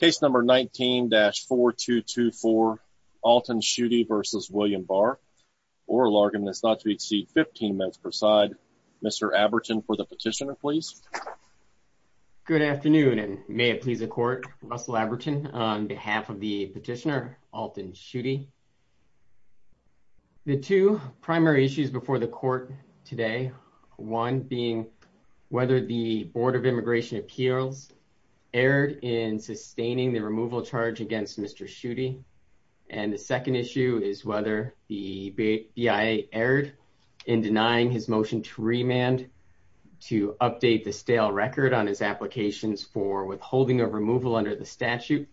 case number 19-4224 Alton Shuti v. William Barr oral argument is not to exceed 15 minutes per side Mr. Abertin for the petitioner please good afternoon and may it please the court Russell Abertin on behalf of the petitioner Alton Shuti the two primary issues before the court today one being whether the board of immigration appeals erred in sustaining the removal charge against Mr. Shuti and the second issue is whether the BIA erred in denying his motion to remand to update the stale record on his applications for withholding of removal under the statute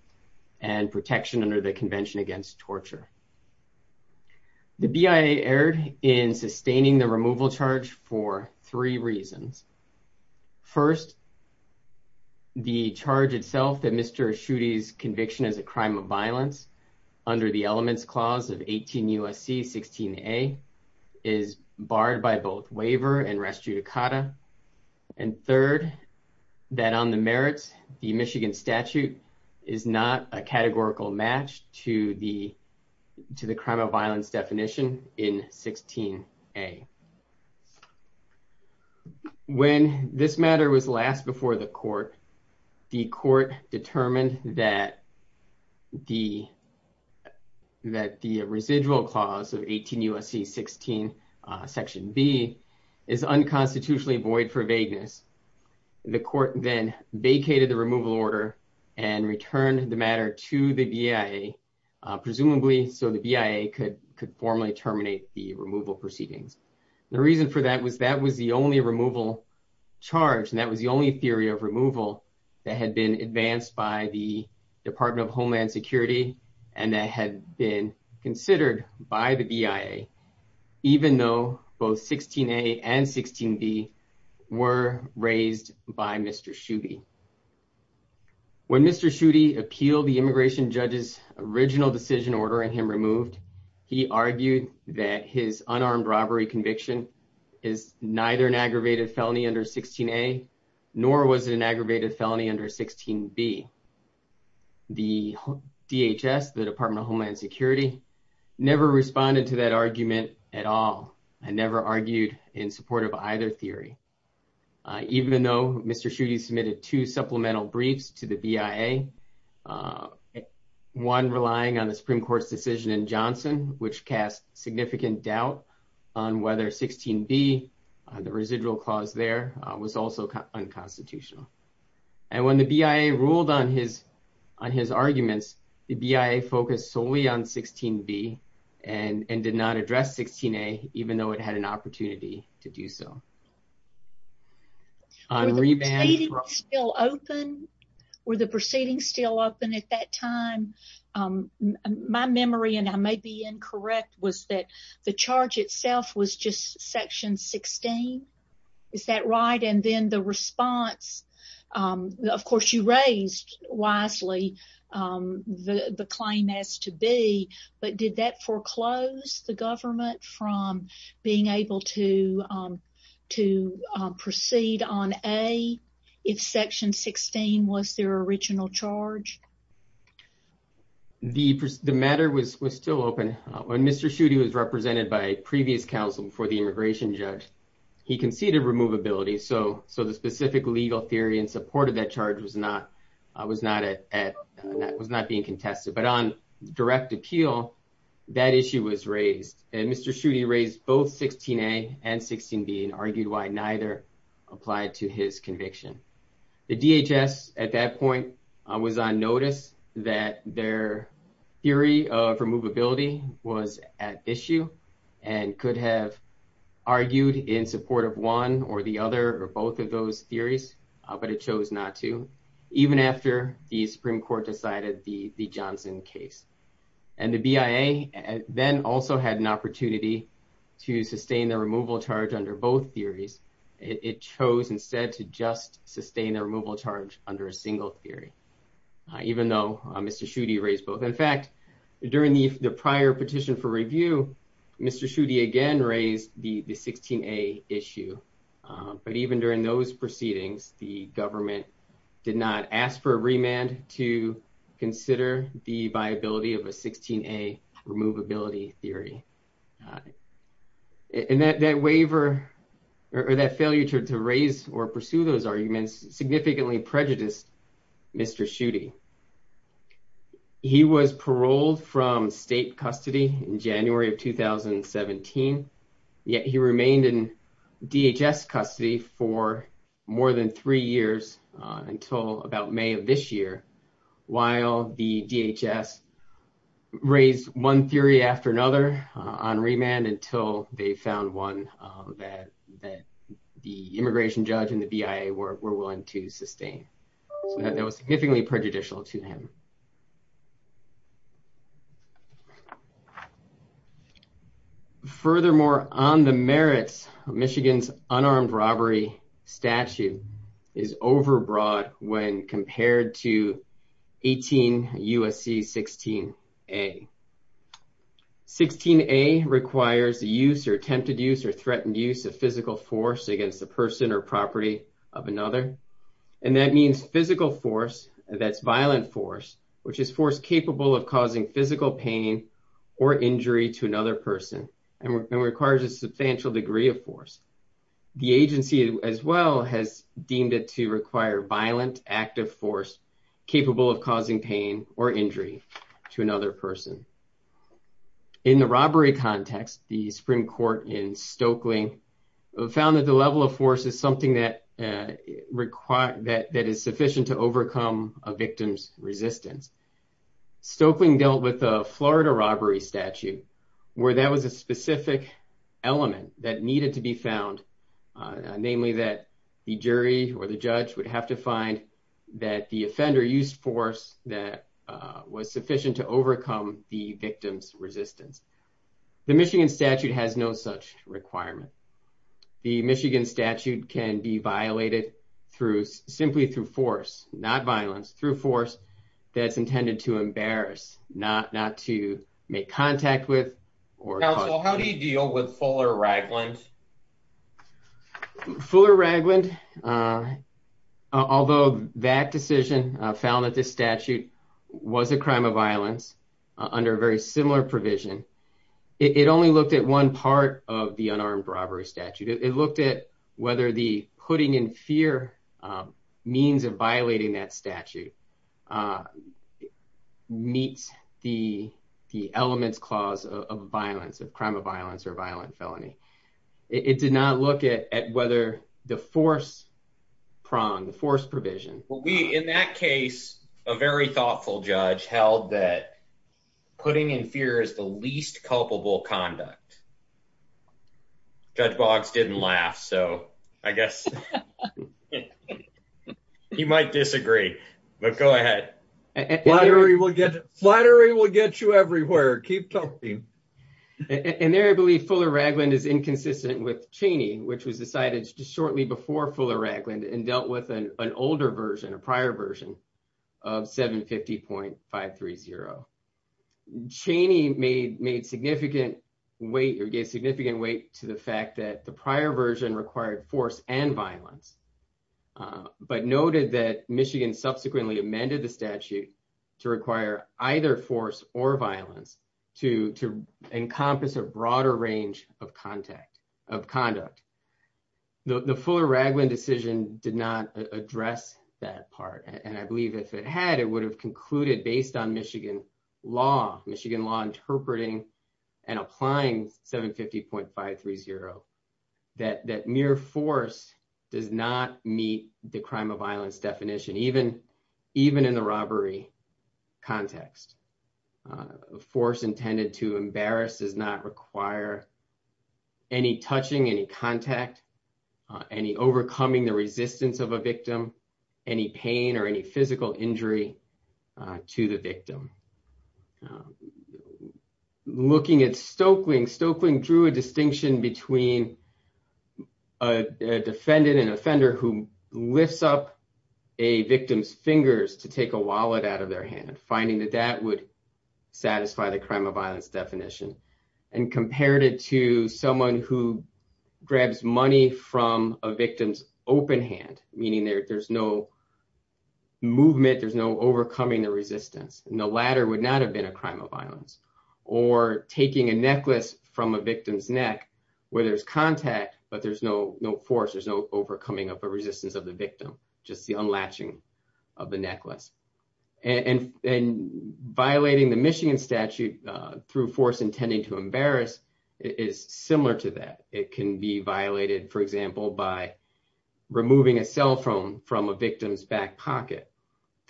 and protection under the convention against torture the BIA erred in sustaining the removal charge for three reasons first the charge itself that Mr. Shuti's conviction as a crime of violence under the elements clause of 18 U.S.C. 16a is barred by both waiver and res judicata and third that on the merits the Michigan statute is not a categorical match to the to the crime of violence definition in 16a when this matter was last before the court the court determined that the that the residual clause of 18 U.S.C. 16 section b is unconstitutionally void for vagueness the court then vacated the removal order and returned the matter to the BIA presumably so the BIA could could formally terminate the removal proceedings the reason for that was that was the only removal charge and that was the only theory of removal that had been advanced by the department of homeland security and that had been considered by the BIA even though both 16a and 16b were raised by Mr. Shuti when Mr. Shuti appealed the immigration judge's original decision ordering him removed he argued that his unarmed robbery conviction is neither an aggravated felony under 16a nor was it an aggravated felony under 16b the DHS the department of homeland security never responded to that argument at all and never argued in support of either theory even though Mr. Shuti submitted two supplemental briefs to the BIA one relying on the Supreme Court's decision in Johnson which cast significant doubt on whether 16b the residual clause there was also unconstitutional and when the BIA ruled on his on his arguments the BIA focused solely on 16b and and did not address 16a even though it had an opportunity to do so. Were the proceedings still open at that time? My memory and I may be incorrect was that the charge itself was just section 16 is that right and then the response of course you raised wisely the the claim as to be but did that foreclose the government from being able to to proceed on a if section 16 was their original charge? The matter was was still open when Mr. Shuti was represented by a previous counsel before the immigration judge he conceded removability so so the specific legal theory and support of that charge was not was not at that was not being contested but on direct appeal that issue was and Mr. Shuti raised both 16a and 16b and argued why neither applied to his conviction. The DHS at that point was on notice that their theory of removability was at issue and could have argued in support of one or the other or both of those theories but it chose not to even after the Supreme Court decided the the Johnson case and the BIA then also had an opportunity to sustain the removal charge under both theories it chose instead to just sustain the removal charge under a single theory even though Mr. Shuti raised both in fact during the prior petition for review Mr. Shuti again raised the the 16a issue but even during those proceedings the government did not ask for a remand to consider the viability of a 16a removability theory and that that waiver or that failure to raise or pursue those arguments significantly prejudiced Mr. Shuti. He was paroled from state custody in January of 2017 yet he remained in DHS custody for more than three years until about May of this year while the DHS raised one theory after another on remand until they found one that that the immigration judge and the BIA were willing to sustain so that was significantly prejudicial to him. Furthermore on the merits of Michigan's armed robbery statute is overbroad when compared to 18 U.S.C. 16a. 16a requires the use or attempted use or threatened use of physical force against the person or property of another and that means physical force that's violent force which is force capable of causing physical pain or injury to another person and requires a substantial degree of force. The agency as well has deemed it to require violent active force capable of causing pain or injury to another person. In the robbery context the Supreme Court in Stokely found that the level of force is something that require that that is sufficient to overcome a victim's resistance. Stokely dealt with Florida robbery statute where that was a specific element that needed to be found namely that the jury or the judge would have to find that the offender used force that was sufficient to overcome the victim's resistance. The Michigan statute has no such requirement. The Michigan statute can be violated through simply through force not violence through force that's intended to embarrass not not to make contact with. Counsel how do you deal with Fuller Ragland? Fuller Ragland although that decision found that this statute was a crime of violence under a very similar provision it only looked at one part of the unarmed robbery statute it looked at whether the putting in fear means of violating that statute meets the the elements clause of violence of crime of violence or violent felony. It did not look at at whether the force prong the force provision. Well we in that case a very thoughtful judge held that putting in fear is the least culpable conduct. Judge Boggs didn't laugh so I guess you might disagree but go ahead. Flattery will get flattery will get you everywhere keep talking. And there I believe Fuller Ragland is inconsistent with Cheney which was decided shortly before Fuller Ragland and dealt with an an older version a prior version of 750.530. Cheney made made significant weight or gave significant weight to the fact that the prior version required force and violence but noted that Michigan subsequently amended the statute to require either force or violence to to encompass a broader range of contact of conduct. The Fuller Ragland decision did not address that part and I believe if it had it would have concluded based on Michigan law Michigan law interpreting and applying 750.530 that that mere force does not meet the crime of violence definition even even in the robbery context. A force intended to embarrass does not require any touching any contact any overcoming the resistance of a victim any pain or any physical injury to the victim. Looking at Stokeling Stokeling drew a distinction between a defendant and offender who lifts up a victim's fingers to take a wallet out of their hand finding that that would satisfy the crime of taking a necklace from a victim's open hand meaning there's no movement there's no overcoming the resistance and the latter would not have been a crime of violence or taking a necklace from a victim's neck where there's contact but there's no no force there's no overcoming of a resistance of the victim just the unlatching of the necklace and and violating the Michigan statute through force intending to embarrass is similar to that it can be violated for example by removing a cell phone from a victim's back pocket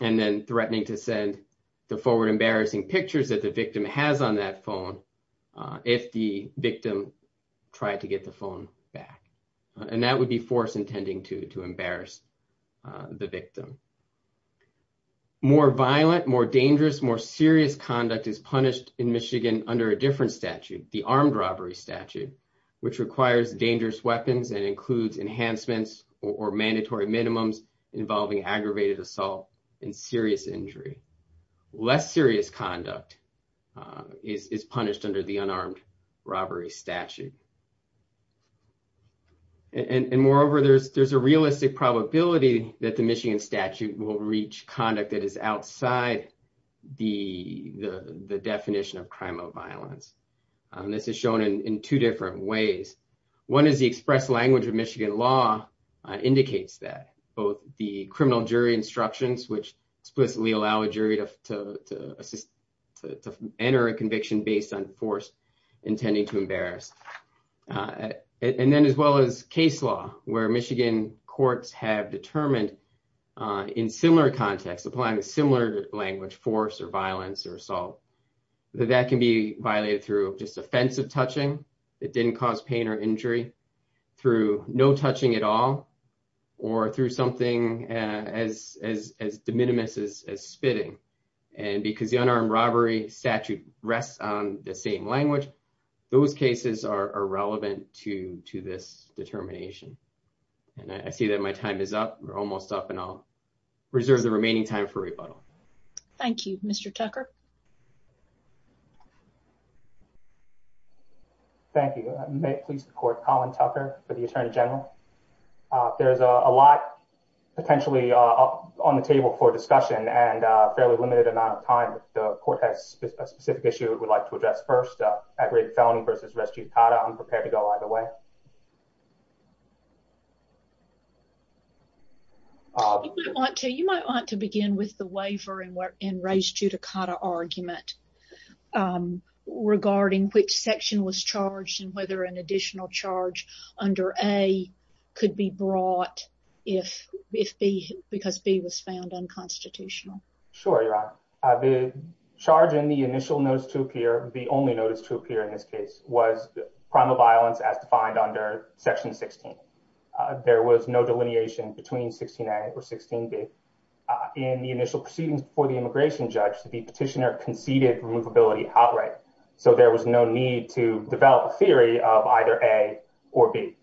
and then threatening to send the forward embarrassing pictures that the victim has on that phone if the victim tried to get the phone back and that would be force intending to to embarrass the victim. More violent more dangerous more serious conduct is punished in Michigan under a different statute the armed robbery statute which requires dangerous weapons and includes enhancements or mandatory minimums involving aggravated assault and serious injury less serious conduct is punished under the unarmed robbery statute and and moreover there's there's a realistic probability that the Michigan statute will reach conduct that is outside the the definition of crime of violence this is shown in in two different ways one is the express language of Michigan law indicates that both the criminal jury instructions which explicitly allow a jury to to assist to enter a conviction based on force intending to embarrass and then as well as case law where Michigan courts have determined in similar contexts applying a similar language force or violence or assault that that can be violated through just offensive touching it didn't cause pain or injury through no touching at all or through something as as as de minimis as spitting and because the unarmed robbery statute rests on the same language those cases are are relevant to to this determination and I see that my time is up we're almost up and I'll reserve the remaining time for rebuttal. Thank you Mr. Tucker. Thank you I may please report Colin Tucker for the Attorney General. There's a lot potentially on the table for discussion and a fairly limited amount of time the court has a specific issue we'd like to address first aggravated felony versus I'm prepared to go either way. You might want to you might want to begin with the waiver and where in race judicata argument regarding which section was charged and whether an additional charge under A could be brought if if B because B was found unconstitutional. Sure you're right the charge in the initial notice to appear the only notice to appear in this case was primal violence as defined under section 16. There was no delineation between 16a or 16b in the initial proceedings before the immigration judge the petitioner conceded removability outright so there was no need to develop a theory of either A or B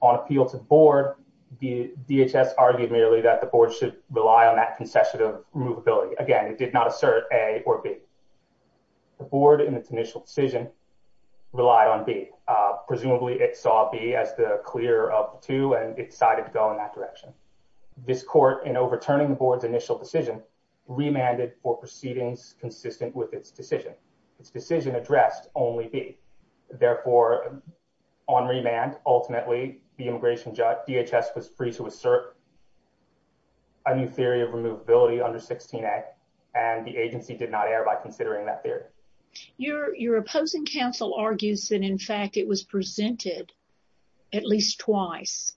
on appeal to board the DHS argued merely that the board should assert A or B the board in its initial decision relied on B presumably it saw B as the clear of two and it decided to go in that direction this court in overturning the board's initial decision remanded for proceedings consistent with its decision its decision addressed only B therefore on remand ultimately the immigration judge DHS was free to assert a new theory of removability under 16a and the agency did not err by considering that theory your your opposing counsel argues that in fact it was presented at least twice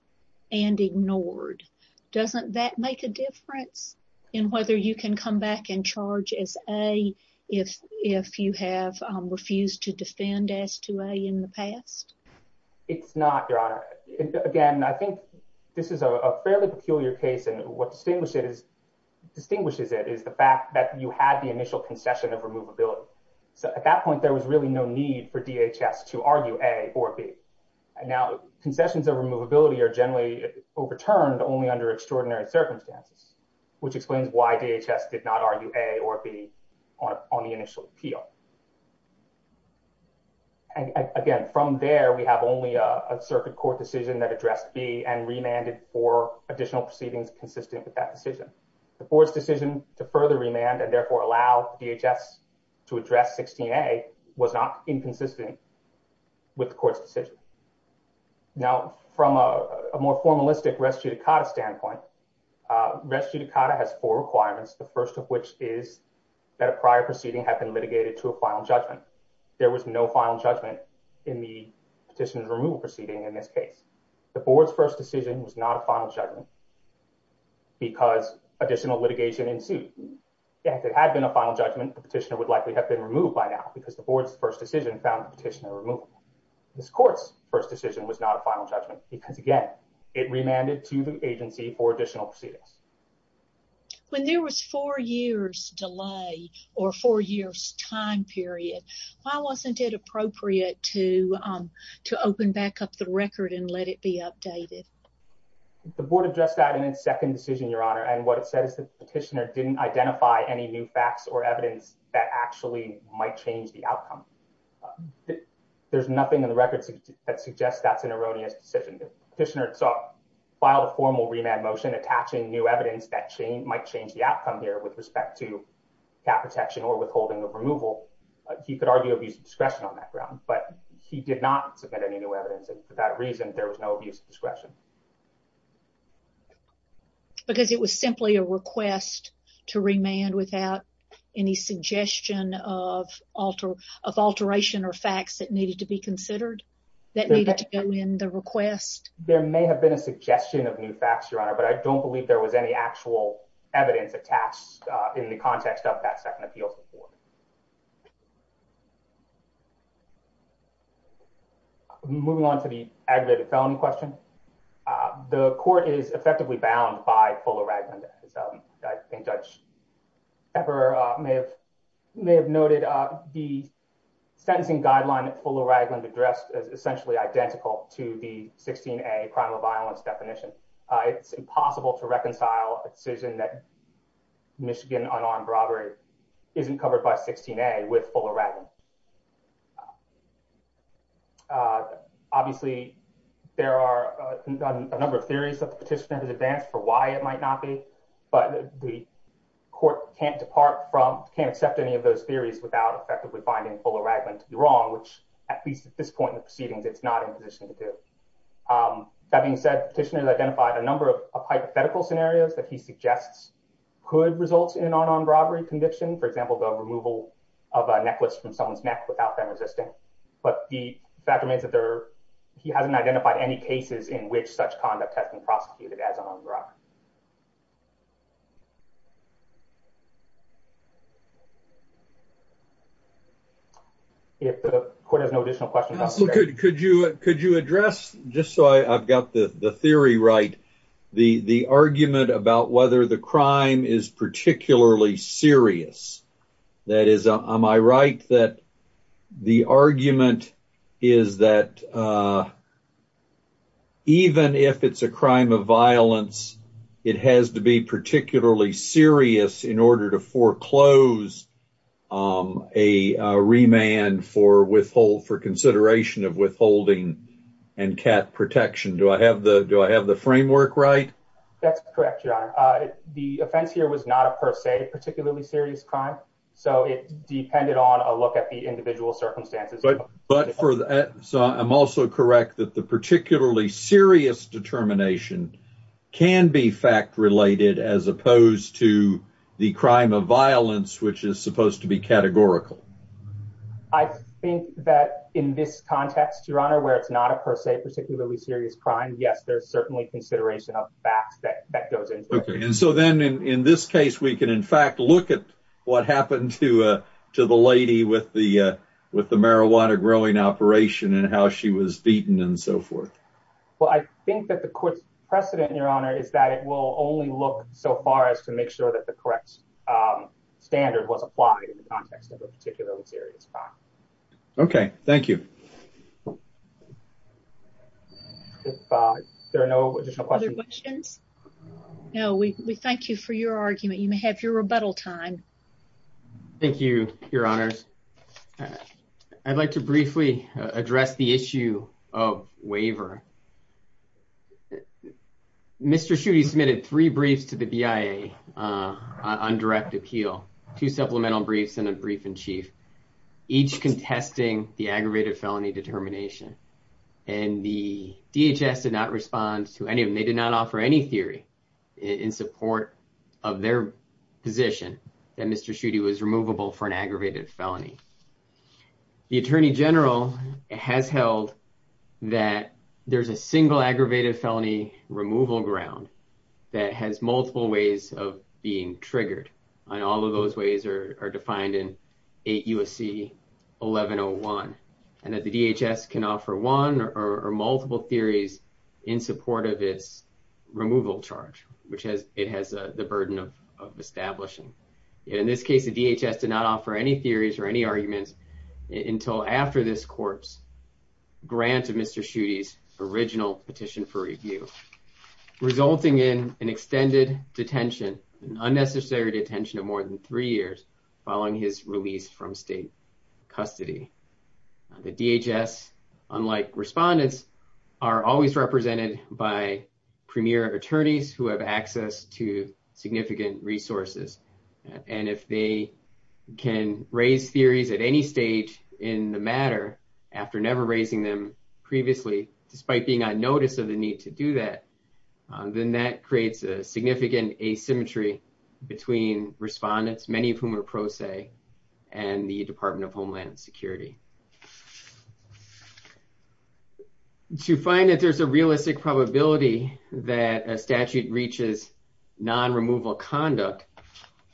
and ignored doesn't that make a difference in whether you can come back and charge as a if if you have refused to defend as to a in the past it's not your honor again i think this is a fairly peculiar case and what distinguishes distinguishes it is the fact that you had the initial concession of removability so at that point there was really no need for DHS to argue A or B and now concessions of removability are generally overturned only under extraordinary circumstances which explains why DHS did not argue A or B on the initial appeal and again from there we have only a circuit court decision that addressed B and remanded for additional proceedings consistent with that decision the board's decision to further remand and therefore allow DHS to address 16a was not inconsistent with the court's decision now from a more formalistic res judicata standpoint res judicata has four requirements the first of which is that a prior proceeding had been litigated to a final judgment there was no final judgment in the petitioner's removal proceeding in this case the board's first decision was not a final judgment because additional litigation ensued if it had been a final judgment the petitioner would likely have been removed by now because the board's first decision found the petitioner removal this court's first decision was not a final judgment because again it remanded to the agency for additional proceedings when there was four years delay or four years time period why wasn't it appropriate to um to open back up the record and let it be updated the board addressed that in its second decision your honor and what it said is petitioner didn't identify any new facts or evidence that actually might change the outcome there's nothing in the records that suggests that's an erroneous decision the petitioner itself filed a formal remand motion attaching new evidence that chain might change the outcome here with respect to cap protection or withholding of removal he could argue abuse of discretion on that ground but he did not submit any new evidence and for that reason there was no abuse of discretion because it was simply a request to remand without any suggestion of alter of alteration or facts that needed to be considered that needed to go in the request there may have been a suggestion of new facts your honor but i don't believe there was any actual evidence attached in the context of that second appeal support okay moving on to the aggravated felony question uh the court is effectively bound by fuller ragland i think judge ever uh may have may have noted uh the sentencing guideline at fuller ragland addressed is essentially identical to the 16a criminal violence definition uh it's impossible to reconcile a decision that michigan unarmed robbery isn't covered by 16a with fuller ragland uh obviously there are a number of theories that the petitioner has advanced for why it might not be but the court can't depart from can't accept any of those theories without effectively finding fuller ragland to be wrong which at least at this point in the proceedings it's not in position to um that being said petitioners identified a number of hypothetical scenarios that he suggests could result in an armed robbery conviction for example the removal of a necklace from someone's neck without them resisting but the fact remains that there he hasn't identified any cases in which such conduct has been prosecuted as an armed robbery so could you could you address just so i i've got the the theory right the the argument about whether the crime is particularly serious that is am i right that the argument is that uh even if it's a crime of violence it has to be particularly serious in order to foreclose um a remand for withhold for consideration of withholding and cat protection do i have the do i have the framework right that's correct your honor uh the offense here was not a per se particularly serious crime so it depended on a look at the individual circumstances but but for that so i'm also correct that the particularly serious determination can be fact related as opposed to the crime of violence which is supposed to be categorical i think that in this context your honor where it's not a per se particularly serious crime yes there's certainly consideration of facts that that goes into it and so then in this case we can in fact look at what happened to uh to the with the uh with the marijuana growing operation and how she was beaten and so forth well i think that the court's precedent your honor is that it will only look so far as to make sure that the correct um standard was applied in the context of a particularly serious crime okay thank you if uh there are no additional questions no we we thank you for your argument you may have your honors i'd like to briefly address the issue of waiver mr shootie submitted three briefs to the bia uh on direct appeal two supplemental briefs and a brief in chief each contesting the aggravated felony determination and the dhs did not respond to any of them they did not offer any theory in support of their position that mr shootie was removable for an aggravated felony the attorney general has held that there's a single aggravated felony removal ground that has multiple ways of being triggered and all of those ways are are defined in eight usc 1101 and that the dhs can offer one or multiple theories in support of its removal charge which has it has the burden of of establishing in this case the dhs did not offer any theories or any arguments until after this court's grant of mr shootie's original petition for review resulting in an extended detention an unnecessary detention of more than three years following his release from state custody the dhs unlike respondents are always represented by premier attorneys who have access to significant resources and if they can raise theories at any stage in the matter after never raising them previously despite being on notice of the need to do that then that creates a significant asymmetry between respondents many of whom are that a statute reaches non-removal conduct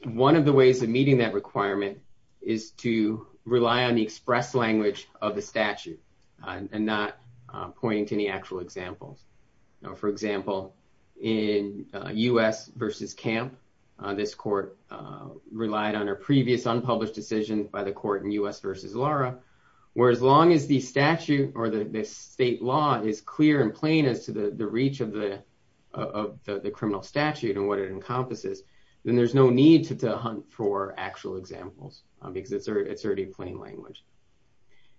one of the ways of meeting that requirement is to rely on the express language of the statute and not pointing to any actual examples now for example in us versus camp this court relied on a previous unpublished decision by the court in us versus laura where as long as the statute or the state law is clear and plain as to the reach of the of the criminal statute and what it encompasses then there's no need to hunt for actual examples because it's already plain language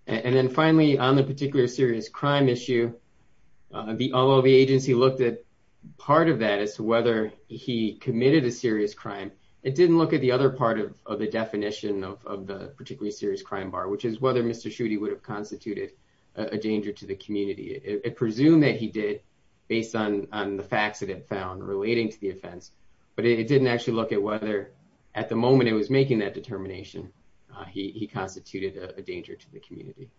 and then finally on the particular serious crime issue the although the agency looked at part of that as to whether he committed a serious crime it didn't look at the other part of the definition of the particularly serious crime bar which is whether mr shootie would have constituted a danger to the community it presumed that he did based on on the facts that it found relating to the offense but it didn't actually look at whether at the moment it was making that determination he constituted a danger to the community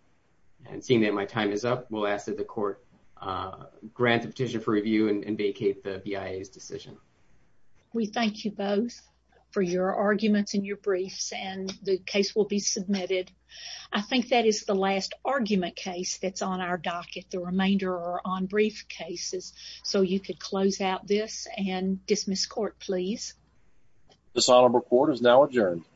and seeing that my time is up we'll ask that the court uh grant the petition for review and vacate the bia's decision we thank you both for your arguments and your briefs and the case will be submitted i think that is the last argument case that's on our docket the remainder are on briefcases so you could close out this and dismiss court please dishonorable court is now adjourned